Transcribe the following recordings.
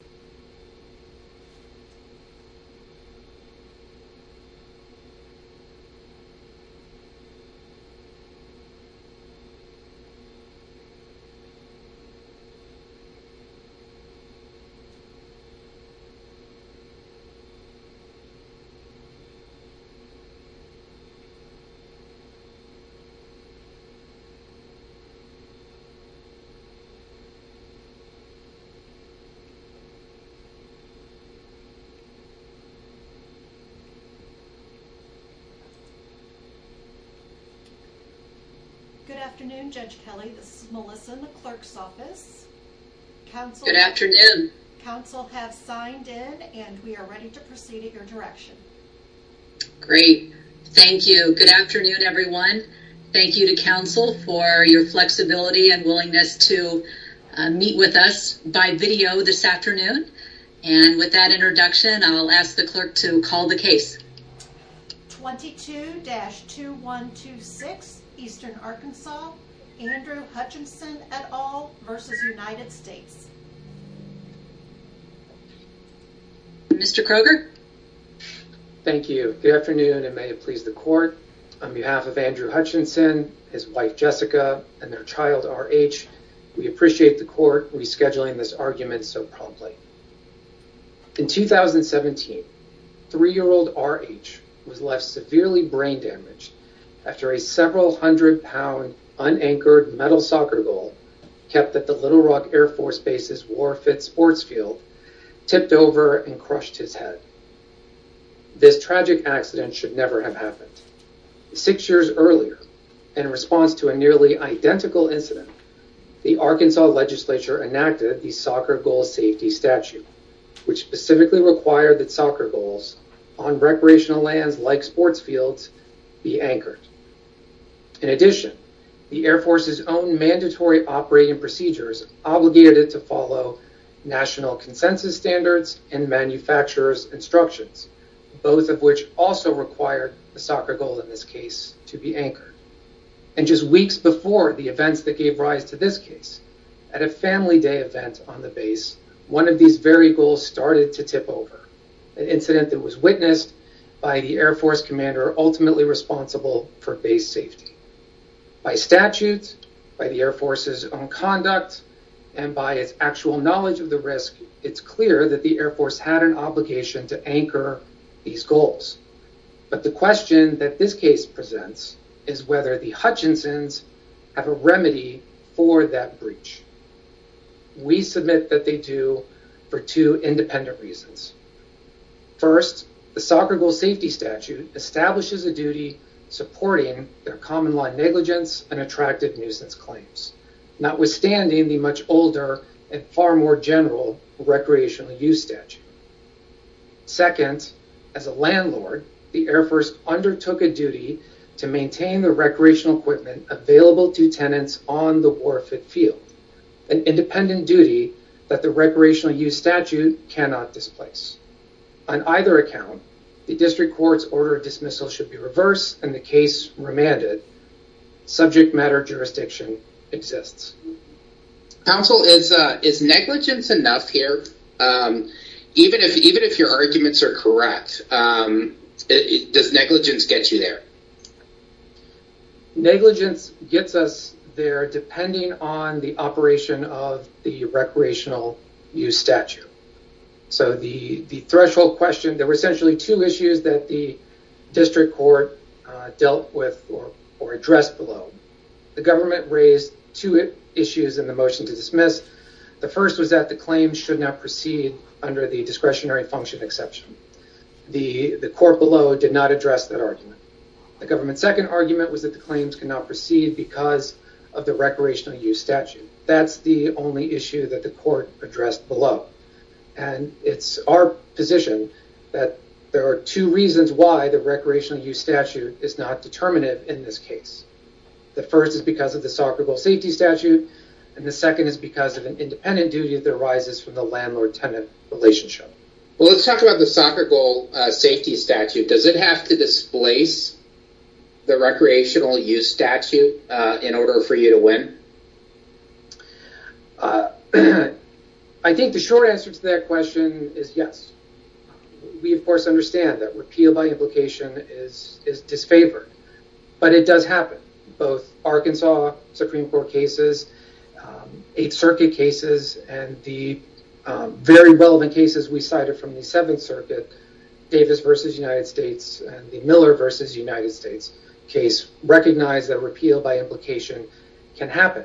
U.S. Embassy in the Philippines Good afternoon Judge Kelley. This is Melissa in the clerk's office. Good afternoon. Counsel have signed in and we are ready to proceed in your direction. Great. Thank you. Good afternoon everyone. Thank you to counsel for your flexibility and willingness to meet with us by video this afternoon. And with that introduction I'll ask the clerk to call the case. 22-2126 Eastern Arkansas Andrew Hutchinson et al. v. United States Mr. Kroger. Thank you. Good afternoon and may it please the court, on behalf of Andrew Hutchinson, his wife Jessica, and their child RH, we appreciate the court rescheduling this argument so promptly. In 2017, three-year-old RH was left severely brain damaged after a several hundred pound unanchored metal soccer goal kept at the Little Rock Air Force Base's Warfield sports field tipped over and crushed his head. This tragic accident should never have happened. Six years earlier, in response to a nearly identical incident, the Arkansas legislature enacted the soccer goal safety statute which specifically required that soccer goals on recreational lands like sports fields be anchored. In addition, the Air Force's own mandatory operating procedures obligated it to follow national consensus standards and manufacturer's instructions. Both of which also required the soccer goal in this case to be anchored. And just weeks before the events that gave rise to this case, at a family day event on the base, one of these very goals started to tip over. An incident that was witnessed by the Air Force commander ultimately responsible for base safety. By statute, by the Air Force's own conduct, and by its actual knowledge of the risk, it's clear that the Air Force had an obligation to anchor these goals. But the question that this case presents is whether the Hutchinsons have a remedy for that breach. We submit that they do for two independent reasons. First, the soccer goal safety statute establishes a duty supporting their common law negligence and attractive nuisance claims. Notwithstanding the much older and far more general recreational use statute. Second, as a landlord, the Air Force undertook a duty to maintain the recreational equipment available to tenants on the war fit field. An independent duty that the recreational use statute cannot displace. On either account, the district court's order of dismissal should be reversed and the case remanded. Subject matter jurisdiction exists. Counsel, is negligence enough here? Even if your arguments are correct, does negligence get you there? Negligence gets us there depending on the operation of the recreational use statute. So the threshold question, there were essentially two issues that the district court dealt with or addressed below. The government raised two issues in the motion to dismiss. The first was that the claim should not proceed under the discretionary function exception. The court below did not address that argument. The government's second argument was that the claims cannot proceed because of the recreational use statute. That's the only issue that the court addressed below. And it's our position that there are two reasons why the recreational use statute is not determinative in this case. The first is because of the soccer goal safety statute and the second is because of an independent duty that arises from the landlord-tenant relationship. Let's talk about the soccer goal safety statute. Does it have to displace the recreational use statute in order for you to win? I think the short answer to that question is yes. We of course understand that repeal by implication is disfavored. But it does happen. Both Arkansas Supreme Court cases, 8th Circuit cases and the very relevant cases we cited from the 7th Circuit, Davis versus United States and the Miller versus United States case recognize that repeal by implication can happen.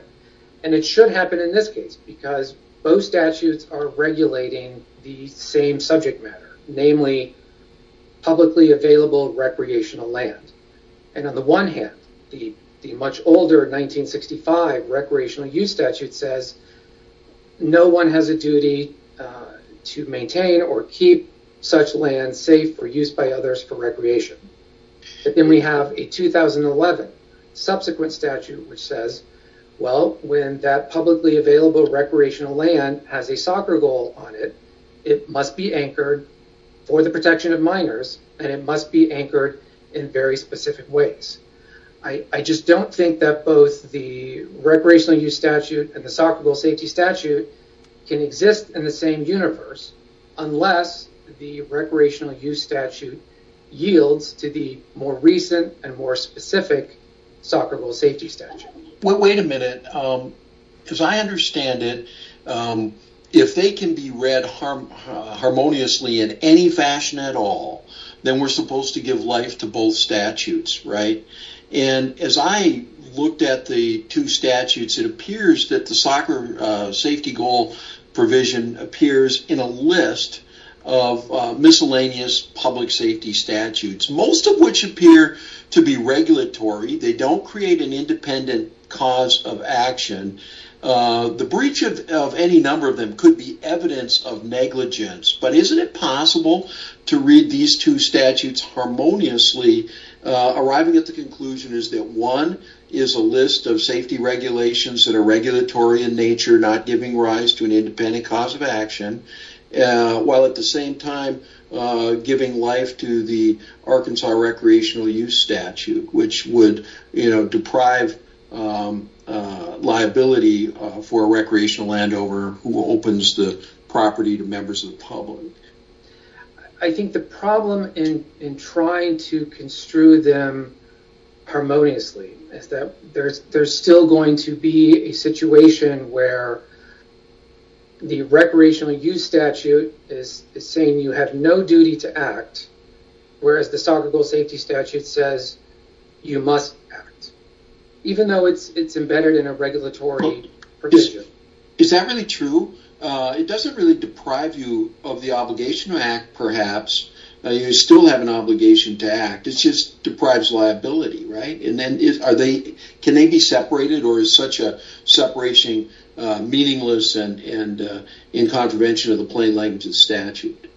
It should happen in this case because both statutes are regulating the same subject matter. Namely, publicly available recreational land. And on the one hand, the much older 1965 recreational use statute says no one has a duty to maintain or keep such land safe for use by others for recreation. Then we have a 2011 subsequent statute which says, well, when that publicly available recreational land has a soccer goal on it, it must be anchored for the protection of minors and it must be anchored in very specific ways. I just don't think that both the recreational use statute and the soccer goal safety statute can exist in the same universe unless the recreational use statute yields to the more recent and more specific soccer goal safety statute. Wait a minute. As I understand it, if they can be read harmoniously in any fashion at all, then we're supposed to give life to both statutes, right? As I looked at the two statutes, it appears that the soccer safety goal provision appears in a list of miscellaneous public safety statutes. Most of which appear to be regulatory. They don't create an independent cause of action. The breach of any number of them could be evidence of negligence. But isn't it possible to read these two statutes harmoniously, arriving at the conclusion that one is a list of safety regulations that are regulatory in nature, not giving rise to an independent cause of action, while at the same time giving life to the Arkansas recreational use statute, which would deprive liability for a recreational landowner who opens the property to members of the public? I think the problem in trying to construe them harmoniously is that there's still going to be a situation where the recreational use statute is saying you have no duty to act, whereas the soccer goal safety statute says you must act, even though it's embedded in a regulatory provision. Is that really true? It doesn't really deprive you of the obligation to act, perhaps. You still have an obligation to act. It just deprives liability, right? Can they be separated, or is such a separation meaningless and in contravention of the plain language of the statute?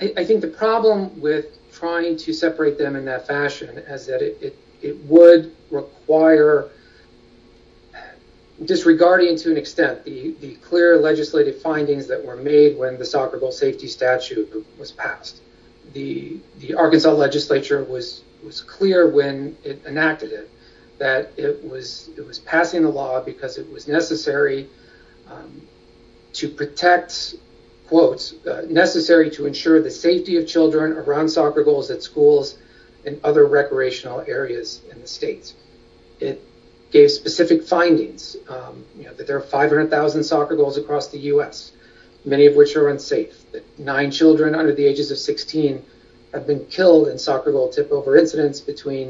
I think the problem with trying to separate them in that fashion is that it would require disregarding to an extent the clear legislative findings that were made when the soccer goal safety statute was passed. The Arkansas legislature was clear when it enacted it that it was passing the law because it was necessary to protect, quote, necessary to ensure the safety of children around soccer goals at schools and other recreational areas in the states. It gave specific findings that there are 500,000 soccer goals across the U.S., many of which are unsafe. Nine children under the ages of 16 have been killed in soccer goal tipover incidents between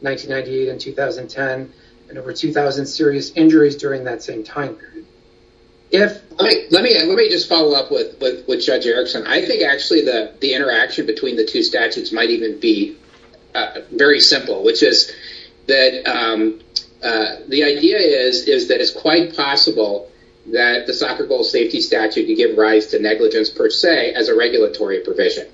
1998 and 2010, and over 2,000 serious injuries during that same time period. Let me just follow up with Judge Erickson. I think actually the interaction between the two statutes might even be very simple, which is that the idea is that it's quite possible that the soccer goal safety statute could give rise to negligence per se as a regulatory provision.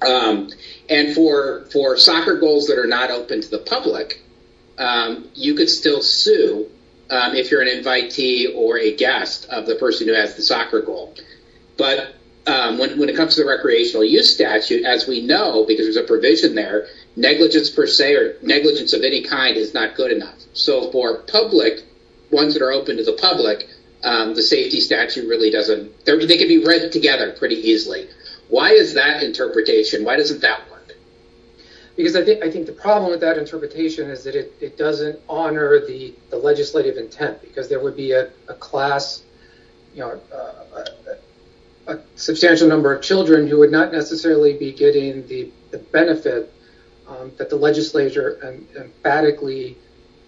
And for soccer goals that are not open to the public, you could still sue if you're an invitee or a guest of the person who has the soccer goal. But when it comes to the recreational use statute, as we know, because there's a provision there, negligence per se or negligence of any kind is not good enough. So for public, ones that are open to the public, the safety statute really doesn't, they can be read together pretty easily. Why is that interpretation, why doesn't that work? Because I think the problem with that interpretation is that it doesn't honor the legislative intent, because there would be a class, a substantial number of children who would not necessarily be getting the benefit that the legislature emphatically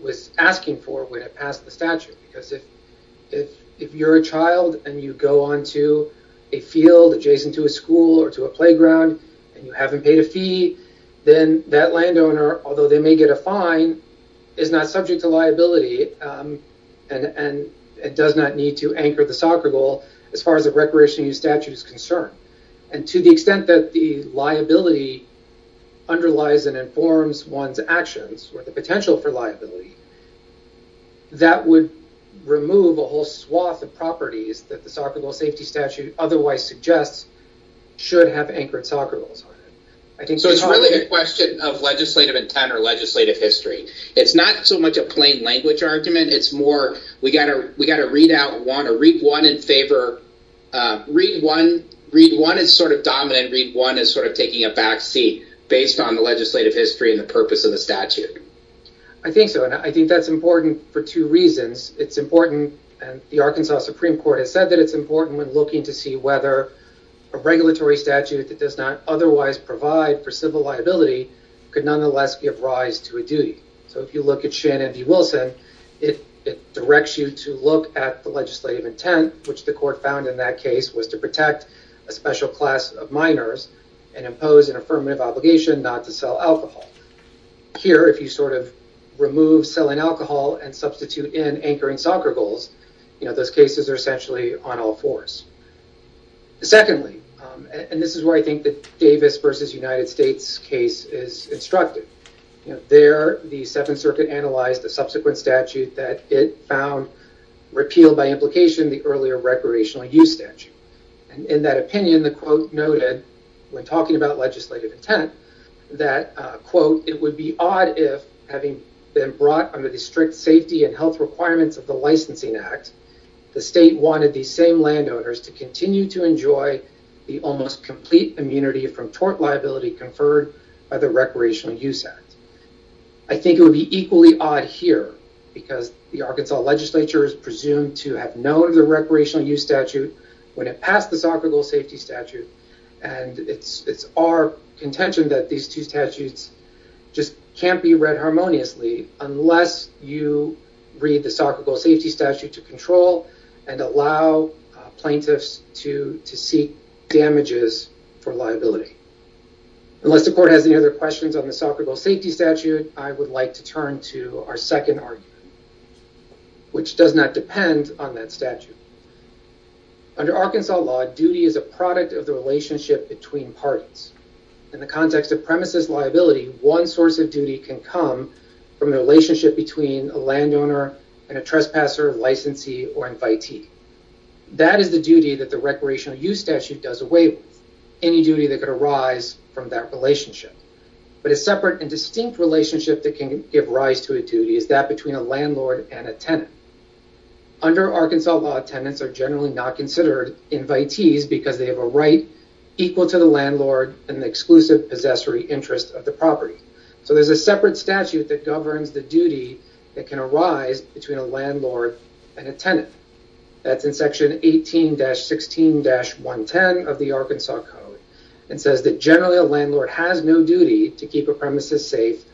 was asking for when it passed the statute. Because if you're a child and you go onto a field adjacent to a school or to a playground and you haven't paid a fee, then that landowner, although they may get a fine, is not subject to liability and does not need to anchor the soccer goal as far as the recreational use statute is concerned. And to the extent that the liability underlies and informs one's actions or the potential for liability, that would remove a whole swath of properties that the soccer goal safety statute otherwise suggests should have anchored soccer goals on it. So it's really a question of legislative intent or legislative history. It's not so much a plain language argument, it's more, we got to read out one or read one in favor. Read one is sort of dominant, read one is sort of taking a backseat based on the legislative history and the purpose of the statute. I think so, and I think that's important for two reasons. It's important, and the Arkansas Supreme Court has said that it's important when looking to see whether a regulatory statute that does not otherwise provide for civil liability could nonetheless give rise to a duty. So if you look at Shannon v. Wilson, it directs you to look at the legislative intent, which the court found in that case was to protect a special class of minors and impose an affirmative obligation not to sell alcohol. Here, if you sort of remove selling alcohol and substitute in anchoring soccer goals, those cases are essentially on all fours. Secondly, and this is where I think the Davis v. United States case is instructed, there the Seventh Circuit analyzed the subsequent statute that it found repealed by implication the earlier recreational use statute. In that opinion, the quote noted, when talking about legislative intent, that, quote, it would be odd if, having been brought under the strict safety and health requirements of the licensing act, the state wanted the same landowners to continue to enjoy the almost complete immunity from tort liability conferred by the recreational use act. I think it would be equally odd here, because the Arkansas legislature is presumed to have known of the recreational use statute when it passed the soccer goal safety statute, and it's our contention that these two statutes just can't be read harmoniously unless you read the soccer goal safety statute to control and allow plaintiffs to seek damages for liability. Unless the court has any other questions on the soccer goal safety statute, I would like to turn to our second argument, which does not depend on that statute. Under Arkansas law, duty is a product of the relationship between parties. In the context of premises liability, one source of duty can come from the relationship between a landowner and a trespasser, licensee, or invitee. That is the duty that the recreational use statute does away with, any duty that could arise from that relationship. But a separate and distinct relationship that can give rise to a duty is that between a landlord and a tenant. Under Arkansas law, tenants are generally not considered invitees because they have a right equal to the landlord and exclusive possessory interest of the property. So there's a separate statute that governs the duty that can arise between a landlord and a tenant. That's in section 18-16-110 of the Arkansas code. It says that generally a landlord has no duty to keep a premises safe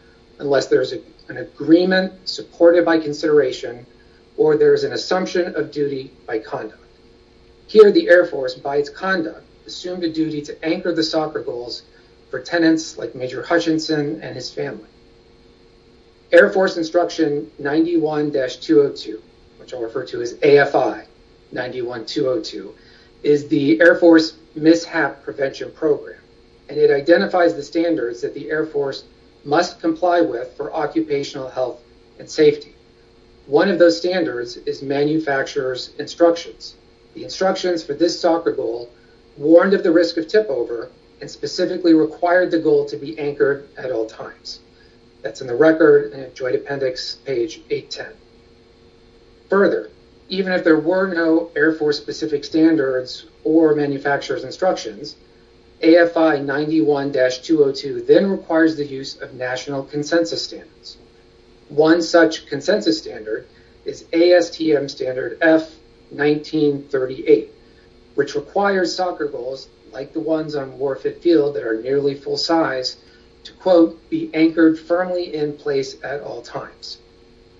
unless there's an agreement supported by consideration or there's an assumption of duty by conduct. Here the Air Force, by its conduct, assumed a duty to anchor the soccer goals for tenants like Major Hutchinson and his family. Air Force Instruction 91-202, which I'll refer to as AFI 91-202, is the Air Force mishap prevention program. And it identifies the standards that the Air Force must comply with for occupational health and safety. One of those standards is manufacturer's instructions. The instructions for this soccer goal warned of the risk of tip over and specifically required the goal to be anchored at all times. That's in the record, joint appendix, page 810. Further, even if there were no Air Force specific standards or manufacturer's instructions, AFI 91-202 then requires the use of national consensus standards. One such consensus standard is ASTM standard F1938, which requires soccer goals like the ones on Warford Field that are nearly full size to, quote, be anchored firmly in place at all times.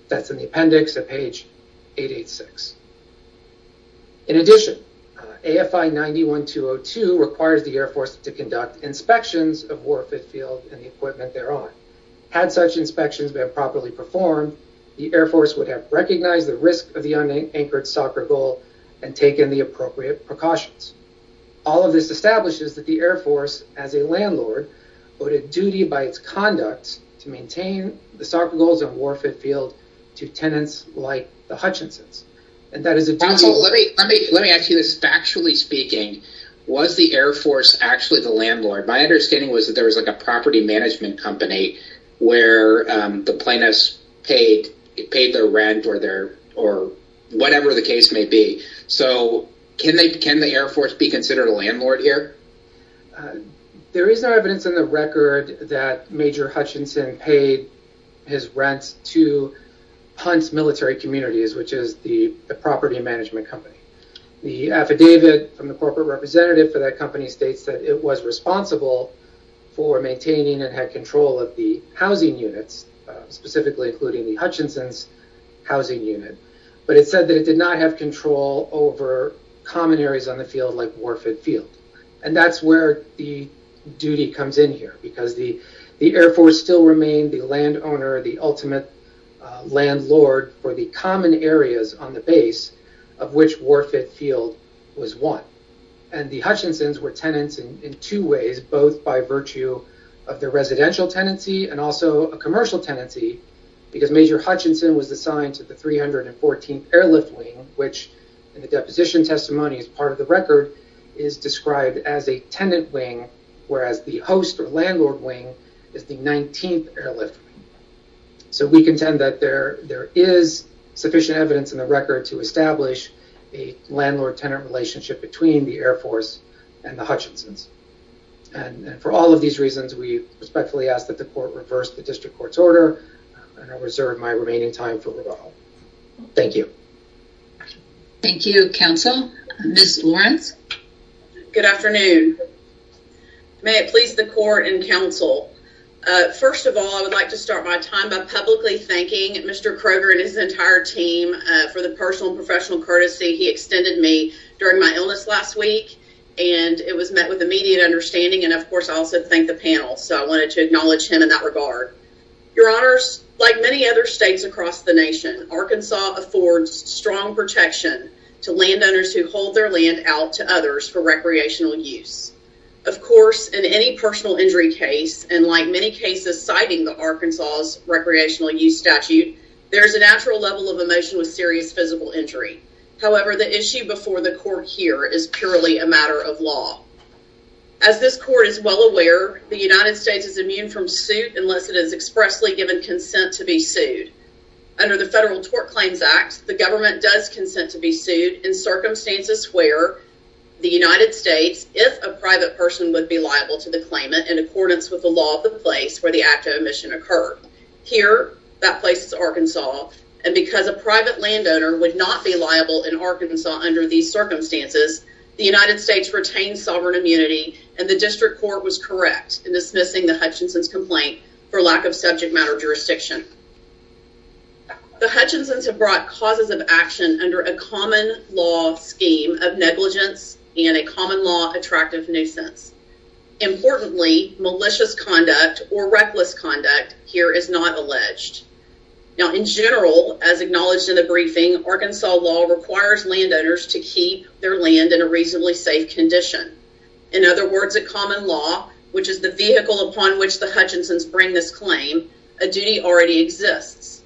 That's in the appendix at page 886. In addition, AFI 91-202 requires the Air Force to conduct inspections of Warford Field and the equipment thereon. Had such inspections been properly performed, the Air Force would have recognized the risk of the unanchored soccer goal and taken the appropriate precautions. All of this establishes that the Air Force, as a landlord, owed a duty by its conduct to maintain the soccer goals on Warford Field to tenants like the Hutchinsons. Let me ask you this. Factually speaking, was the Air Force actually the landlord? My understanding was that there was a property management company where the plaintiffs paid their rent or whatever the case may be. Can the Air Force be considered a landlord here? There is no evidence in the record that Major Hutchinson paid his rent to Hunt's Military Communities, which is the property management company. The affidavit from the corporate representative for that company states that it was responsible for maintaining and had control of the housing units, specifically including the Hutchinson's housing unit. But it said that it did not have control over common areas on the field like Warford Field. And that's where the duty comes in here because the Air Force still remained the landowner, the ultimate landlord for the common areas on the base of which Warford Field was one. And the Hutchinsons were tenants in two ways, both by virtue of their residential tenancy and also a commercial tenancy. Because Major Hutchinson was assigned to the 314th Airlift Wing, which in the deposition testimony is part of the record, is described as a tenant wing, whereas the host or landlord wing is the 19th Airlift Wing. So we contend that there is sufficient evidence in the record to establish a landlord-tenant relationship between the Air Force and the Hutchinsons. And for all of these reasons, we respectfully ask that the court reverse the district court's order and I reserve my remaining time for rebuttal. Thank you. Thank you, counsel. Ms. Lawrence? Good afternoon. May it please the court and counsel. First of all, I would like to start my time by publicly thanking Mr. Kroger and his entire team for the personal and professional courtesy he extended me during my illness last week. And it was met with immediate understanding and, of course, I also thank the panel. So I wanted to acknowledge him in that regard. Your Honors, like many other states across the nation, Arkansas affords strong protection to landowners who hold their land out to others for recreational use. Of course, in any personal injury case, and like many cases citing the Arkansas Recreational Use Statute, there is a natural level of emotion with serious physical injury. However, the issue before the court here is purely a matter of law. As this court is well aware, the United States is immune from suit unless it is expressly given consent to be sued. Under the Federal Tort Claims Act, the government does consent to be sued in circumstances where the United States, if a private person, would be liable to the claimant in accordance with the law of the place where the act of omission occurred. Here, that place is Arkansas. And because a private landowner would not be liable in Arkansas under these circumstances, the United States retained sovereign immunity and the district court was correct in dismissing the Hutchinson's complaint for lack of subject matter jurisdiction. The Hutchinson's have brought causes of action under a common law scheme of negligence and a common law attractive nuisance. Importantly, malicious conduct or reckless conduct here is not alleged. Now, in general, as acknowledged in the briefing, Arkansas law requires landowners to keep their land in a reasonably safe condition. In other words, a common law, which is the vehicle upon which the Hutchinson's bring this claim, a duty already exists.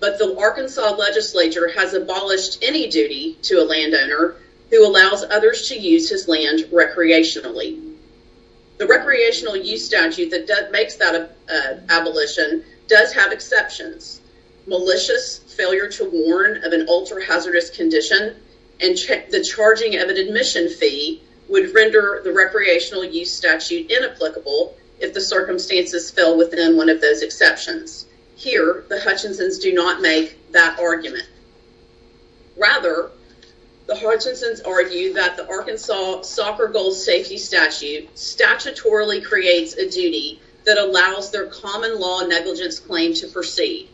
But the Arkansas legislature has abolished any duty to a landowner who allows others to use his land recreationally. The recreational use statute that makes that abolition does have exceptions. Malicious failure to warn of an ultra-hazardous condition and the charging of an admission fee would render the recreational use statute inapplicable if the circumstances fell within one of those exceptions. Here, the Hutchinson's do not make that argument. Rather, the Hutchinson's argue that the Arkansas soccer goal safety statute statutorily creates a duty that allows their common law negligence claim to proceed.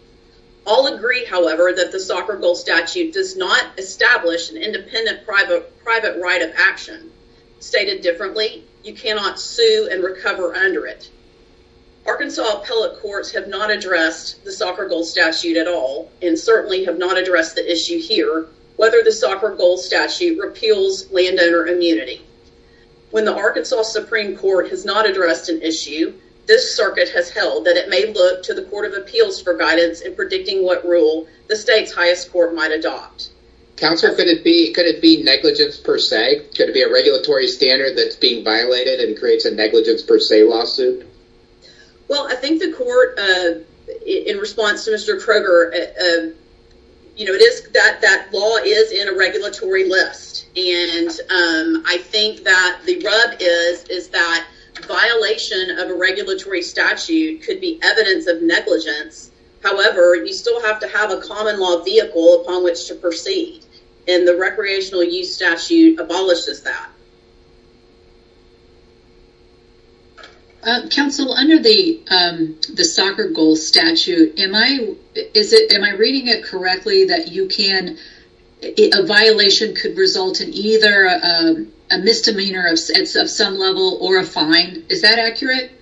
All agree, however, that the soccer goal statute does not establish an independent private right of action. Stated differently, you cannot sue and recover under it. Arkansas appellate courts have not addressed the soccer goal statute at all, and certainly have not addressed the issue here, whether the soccer goal statute repeals landowner immunity. When the Arkansas Supreme Court has not addressed an issue, this circuit has held that it may look to the Court of Appeals for guidance in predicting what rule the state's highest court might adopt. Counselor, could it be negligence per se? Could it be a regulatory standard that's being violated and creates a negligence per se lawsuit? Well, I think the court, in response to Mr. Kroger, that law is in a regulatory list. I think that the rub is that violation of a regulatory statute could be evidence of negligence. However, you still have to have a common law vehicle upon which to proceed, and the recreational use statute abolishes that. Counsel, under the soccer goal statute, am I reading it correctly that a violation could result in either a misdemeanor of some level or a fine? Is that accurate?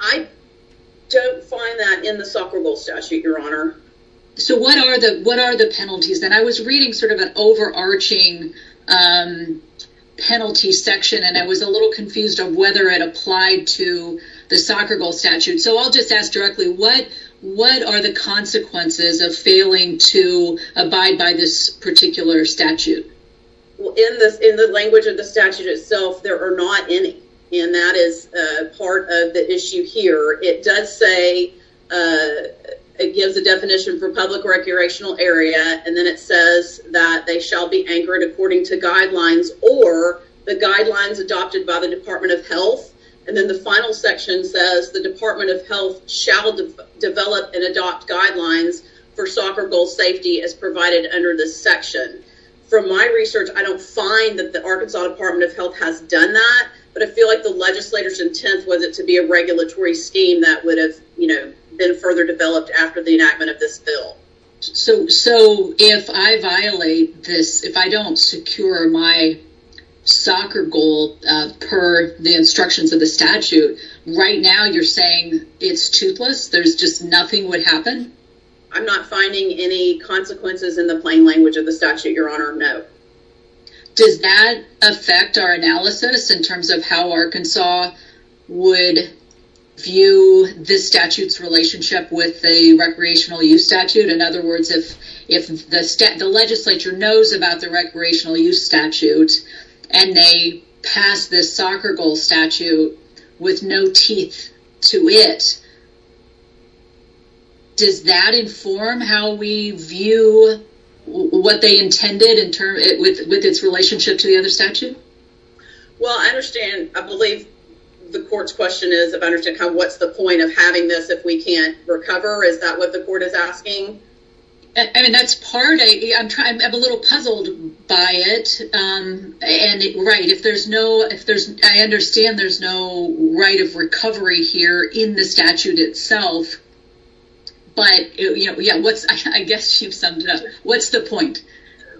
I don't find that in the soccer goal statute, Your Honor. So, what are the penalties? And I was reading sort of an overarching penalty section, and I was a little confused on whether it applied to the soccer goal statute. So, I'll just ask directly, what are the consequences of failing to abide by this particular statute? Well, in the language of the statute itself, there are not any, and that is part of the issue here. It does say, it gives a definition for public recreational area, and then it says that they shall be anchored according to guidelines or the guidelines adopted by the Department of Health. And then the final section says the Department of Health shall develop and adopt guidelines for soccer goal safety as provided under this section. From my research, I don't find that the Arkansas Department of Health has done that, but I feel like the legislator's intent was it to be a regulatory scheme that would have, you know, been further developed after the enactment of this bill. So, if I violate this, if I don't secure my soccer goal per the instructions of the statute, right now you're saying it's toothless? There's just nothing would happen? I'm not finding any consequences in the plain language of the statute, Your Honor, no. Does that affect our analysis in terms of how Arkansas would view this statute's relationship with the recreational use statute? In other words, if the legislature knows about the recreational use statute, and they pass this soccer goal statute with no teeth to it, does that inform how we view what they intended with its relationship to the other statute? Well, I understand. I believe the court's question is, what's the point of having this if we can't recover? Is that what the court is asking? I mean, that's part. I'm a little puzzled by it. Right. I understand there's no right of recovery here in the statute itself, but I guess you've summed it up. What's the point?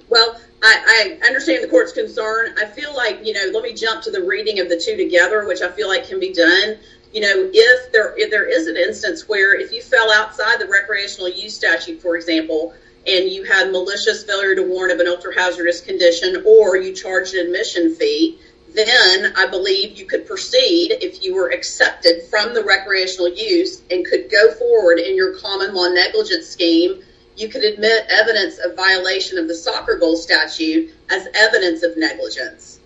Well, I understand the court's concern. I feel like, you know, let me jump to the reading of the two together, which I feel like can be done. You know, if there is an instance where if you fell outside the recreational use statute, for example, and you had malicious failure to warn of an ultra hazardous condition, or you charged an admission fee, then I believe you could proceed if you were accepted from the recreational use and could go forward in your common law negligence scheme, you could admit evidence of violation of the soccer goal statute as evidence of negligence.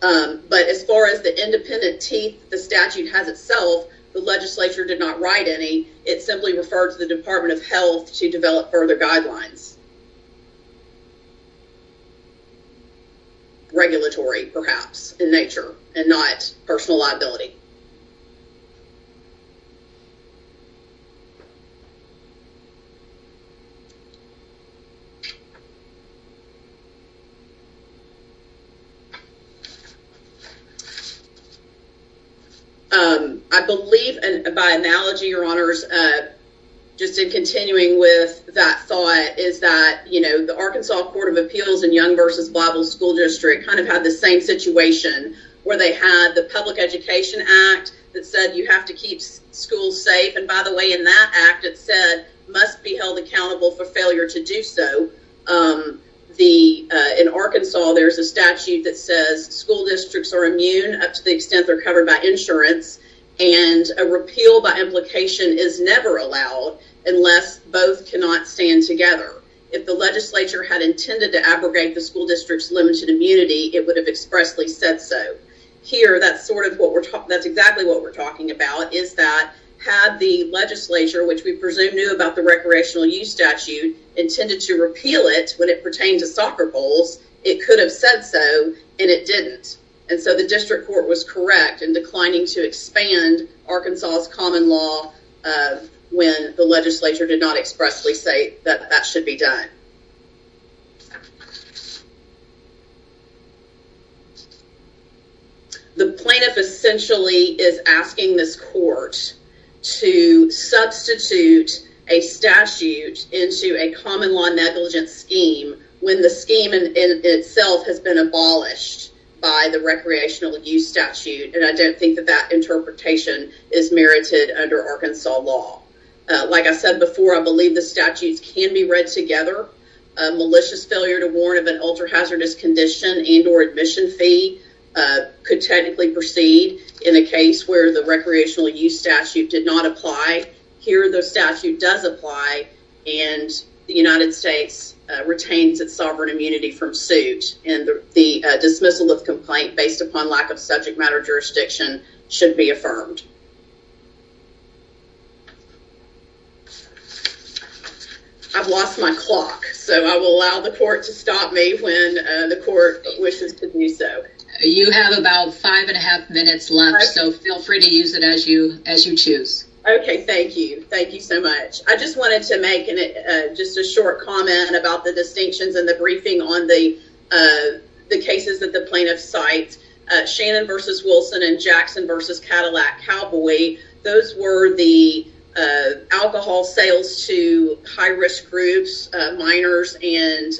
But as far as the independent teeth the statute has itself, the legislature did not write any. It simply referred to the Department of Health to develop further guidelines. Regulatory, perhaps in nature and not personal liability. I believe, and by analogy, your honors, just in continuing with that thought is that, you know, the Arkansas Court of Appeals and Young versus Bible school district kind of had the same situation where they had the public education act. That said, you have to keep school safe. And by the way, in that act, it said must be held accountable for failure to do so. The in Arkansas, there's a statute that says school districts are immune up to the extent they're covered by insurance and a repeal by implication is never allowed unless both cannot stand together. If the legislature had intended to abrogate the school district's limited immunity, it would have expressly said so here. That's sort of what we're talking. That's exactly what we're talking about. Is that had the legislature, which we presume knew about the recreational use statute intended to repeal it when it pertained to soccer bowls, it could have said so and it didn't. And so the district court was correct in declining to expand Arkansas's common law when the legislature did not expressly say that that should be done. The plaintiff essentially is asking this court to substitute a statute into a common law negligence scheme when the scheme in itself has been abolished by the recreational use statute. And I don't think that that interpretation is merited under Arkansas law. Like I said before, I believe the statutes can be read together malicious failure to warn of an ultra hazardous condition and or admission fee could technically proceed in a case where the recreational use statute did not apply. Here, the statute does apply and the United States retains its sovereign immunity from suit and the dismissal of complaint based upon lack of subject matter jurisdiction should be affirmed. I've lost my clock, so I will allow the court to stop me when the court wishes to do so. You have about five and a half minutes left, so feel free to use it as you choose. Okay. Thank you. Thank you so much. I just wanted to make just a short comment about the distinctions and the briefing on the cases that the plaintiffs cite. Shannon versus Wilson and Jackson versus Cadillac Cowboy, those were the alcohol sales to high risk groups, minors and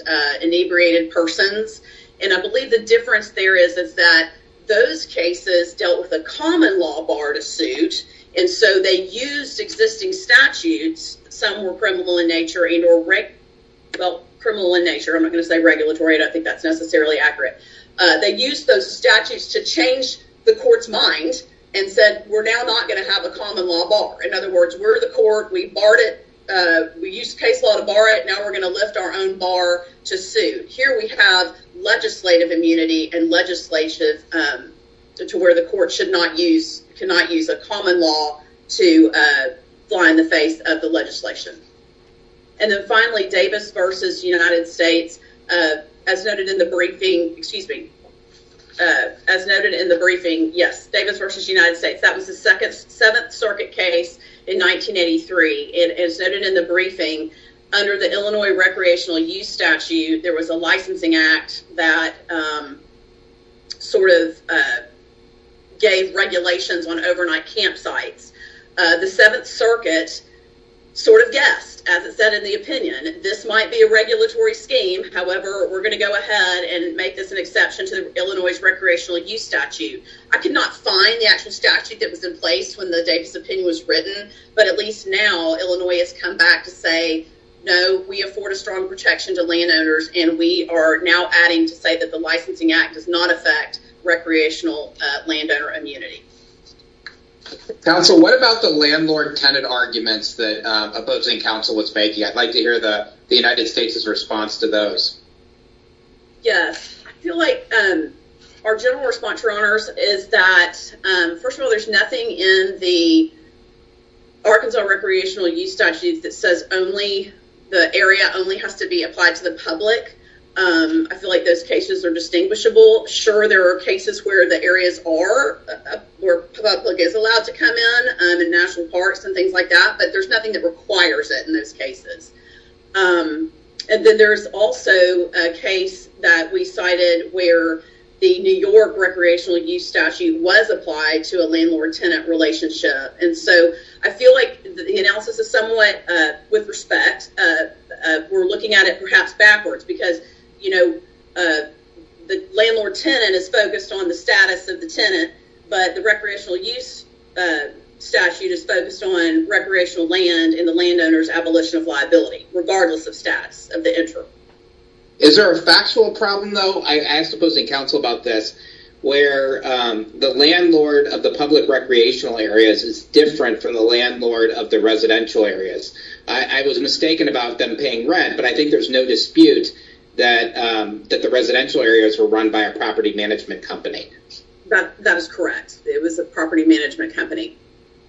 inebriated persons. And I believe the difference there is, is that those cases dealt with a common law bar to suit. And so they used existing statutes. Some were criminal in nature and or, well, criminal in nature. I'm not going to say regulatory, and I think that's necessarily accurate. They used those statutes to change the court's mind and said, we're now not going to have a common law bar. In other words, we're the court. We barred it. We used case law to bar it. Now we're going to lift our own bar to suit. Here we have legislative immunity and legislation to where the court should not use, cannot use a common law to fly in the face of the legislation. And then finally, Davis versus United States, as noted in the briefing, excuse me, as noted in the briefing, yes, Davis versus United States. That was the second, seventh circuit case in 1983. It is noted in the briefing under the Illinois recreational use statute. There was a licensing act that sort of gave regulations on overnight campsites. The Seventh Circuit sort of guessed, as it said in the opinion, this might be a regulatory scheme. However, we're going to go ahead and make this an exception to Illinois recreational use statute. I could not find the actual statute that was in place when the Davis opinion was written. But at least now, Illinois has come back to say, no, we afford a strong protection to landowners. And we are now adding to say that the licensing act does not affect recreational landowner immunity. So what about the landlord tenant arguments that opposing counsel was making? I'd like to hear the United States's response to those. Yes, I feel like our general response, your honors, is that first of all, there's nothing in the Arkansas recreational use statute that says only the area only has to be applied to the public. I feel like those cases are distinguishable. Sure, there are cases where the areas are where public is allowed to come in and national parks and things like that. But there's nothing that requires it in those cases. And then there's also a case that we cited where the New York recreational use statute was applied to a landlord tenant relationship. And so I feel like the analysis is somewhat with respect. We're looking at it perhaps backwards because, you know, the landlord tenant is focused on the status of the tenant. But the recreational use statute is focused on recreational land in the landowner's abolition of liability, regardless of status of the interim. Is there a factual problem, though? I suppose in council about this, where the landlord of the public recreational areas is different from the landlord of the residential areas. I was mistaken about them paying rent, but I think there's no dispute that that the residential areas were run by a property management company. That is correct. It was a property management company.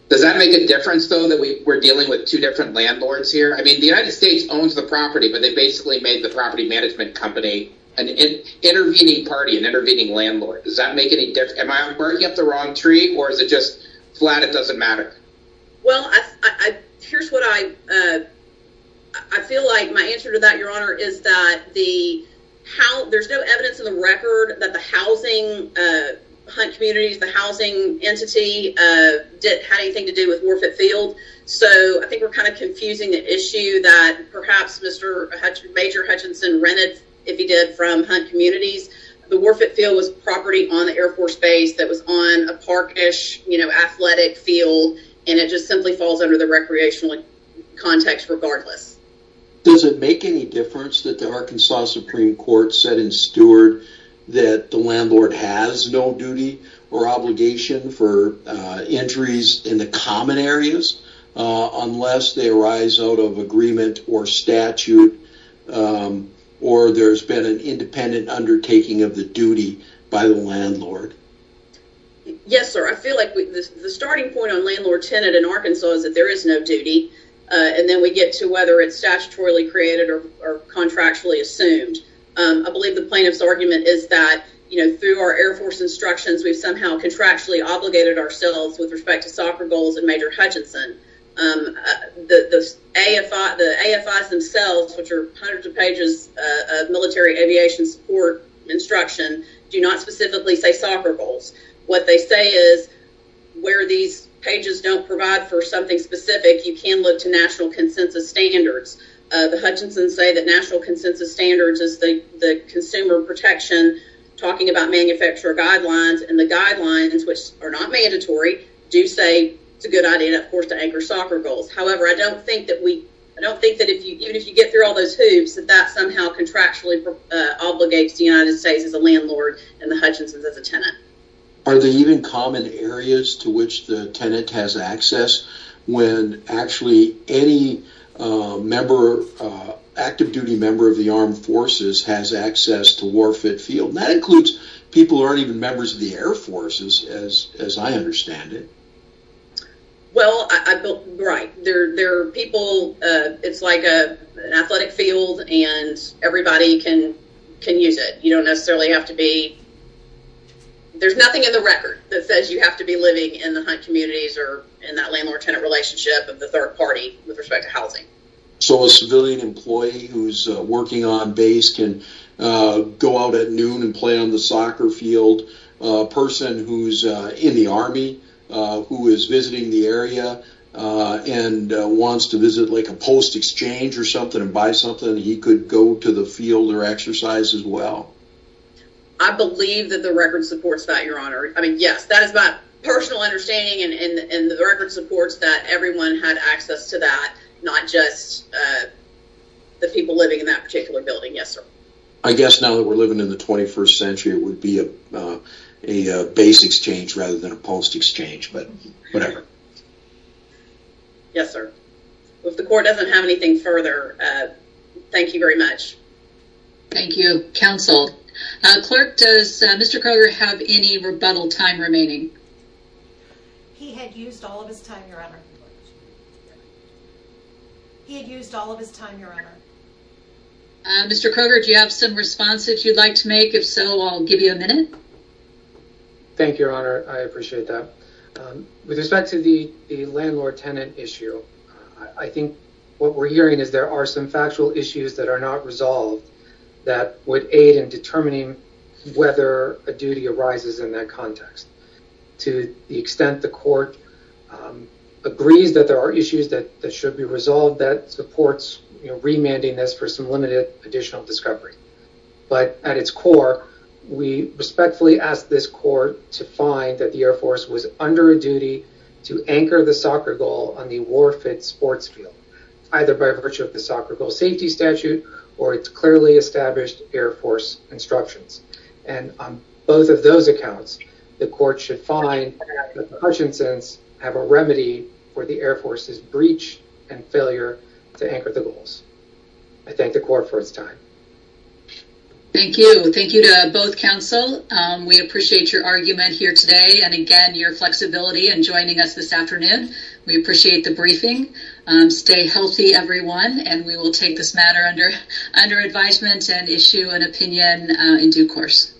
Does that make a difference, though, that we were dealing with two different landlords here? I mean, the United States owns the property, but they basically made the property management company an intervening party, an intervening landlord. Does that make any difference? Am I working up the wrong tree or is it just flat? It doesn't matter. Well, I here's what I I feel like my answer to that, Your Honor, is that the how there's no evidence in the record that the housing communities, the housing entity did have anything to do with Warford Field. So I think we're kind of confusing the issue that perhaps Mr. Major Hutchinson rented, if he did, from Hunt Communities. The Warford Field was property on the Air Force Base that was on a park-ish athletic field, and it just simply falls under the recreational context regardless. Does it make any difference that the Arkansas Supreme Court said in Stewart that the landlord has no duty or obligation for entries in the common areas unless they arise out of agreement or statute or there's been an independent undertaking of the duty by the landlord? Yes, sir. I feel like the starting point on landlord tenant in Arkansas is that there is no duty. And then we get to whether it's statutorily created or contractually assumed. I believe the plaintiff's argument is that, you know, through our Air Force instructions, we've somehow contractually obligated ourselves with respect to soccer goals and Major Hutchinson. The AFIs themselves, which are hundreds of pages of military aviation support instruction, do not specifically say soccer goals. What they say is where these pages don't provide for something specific, you can look to national consensus standards. The Hutchinsons say that national consensus standards is the consumer protection, talking about manufacturer guidelines, and the guidelines, which are not mandatory, do say it's a good idea, of course, to anchor soccer goals. However, I don't think that even if you get through all those hoops, that that somehow contractually obligates the United States as a landlord and the Hutchinsons as a tenant. Are there even common areas to which the tenant has access when actually any active duty member of the armed forces has access to war fit field? That includes people who aren't even members of the Air Force, as I understand it. Well, right, there are people, it's like an athletic field and everybody can use it. You don't necessarily have to be, there's nothing in the record that says you have to be living in the hunt communities or in that landlord tenant relationship of the third party with respect to housing. So a civilian employee who's working on base can go out at noon and play on the soccer field. A person who's in the Army, who is visiting the area and wants to visit like a post exchange or something and buy something, he could go to the field or exercise as well. I believe that the record supports that, Your Honor. I mean, yes, that is my personal understanding and the record supports that everyone had access to that, not just the people living in that particular building. Yes, sir. I guess now that we're living in the 21st century, it would be a base exchange rather than a post exchange, but whatever. Yes, sir. If the court doesn't have anything further, thank you very much. Thank you, Counsel. Clerk, does Mr. Kroger have any rebuttal time remaining? He had used all of his time, Your Honor. He had used all of his time, Your Honor. Mr. Kroger, do you have some responses you'd like to make? If so, I'll give you a minute. Thank you, Your Honor. I appreciate that. With respect to the landlord-tenant issue, I think what we're hearing is there are some factual issues that are not resolved that would aid in determining whether a duty arises in that context. To the extent the court agrees that there are issues that should be resolved, that supports remanding this for some limited additional discovery. But at its core, we respectfully ask this court to find that the Air Force was under a duty to anchor the soccer goal on the war fit sports field. Either by virtue of the soccer goal safety statute or its clearly established Air Force instructions. And on both of those accounts, the court should find that the Hutchinson's have a remedy for the Air Force's breach and failure to anchor the goals. I thank the court for its time. Thank you. Thank you to both counsel. We appreciate your argument here today and, again, your flexibility in joining us this afternoon. We appreciate the briefing. Stay healthy, everyone, and we will take this matter under advisement and issue an opinion in due course.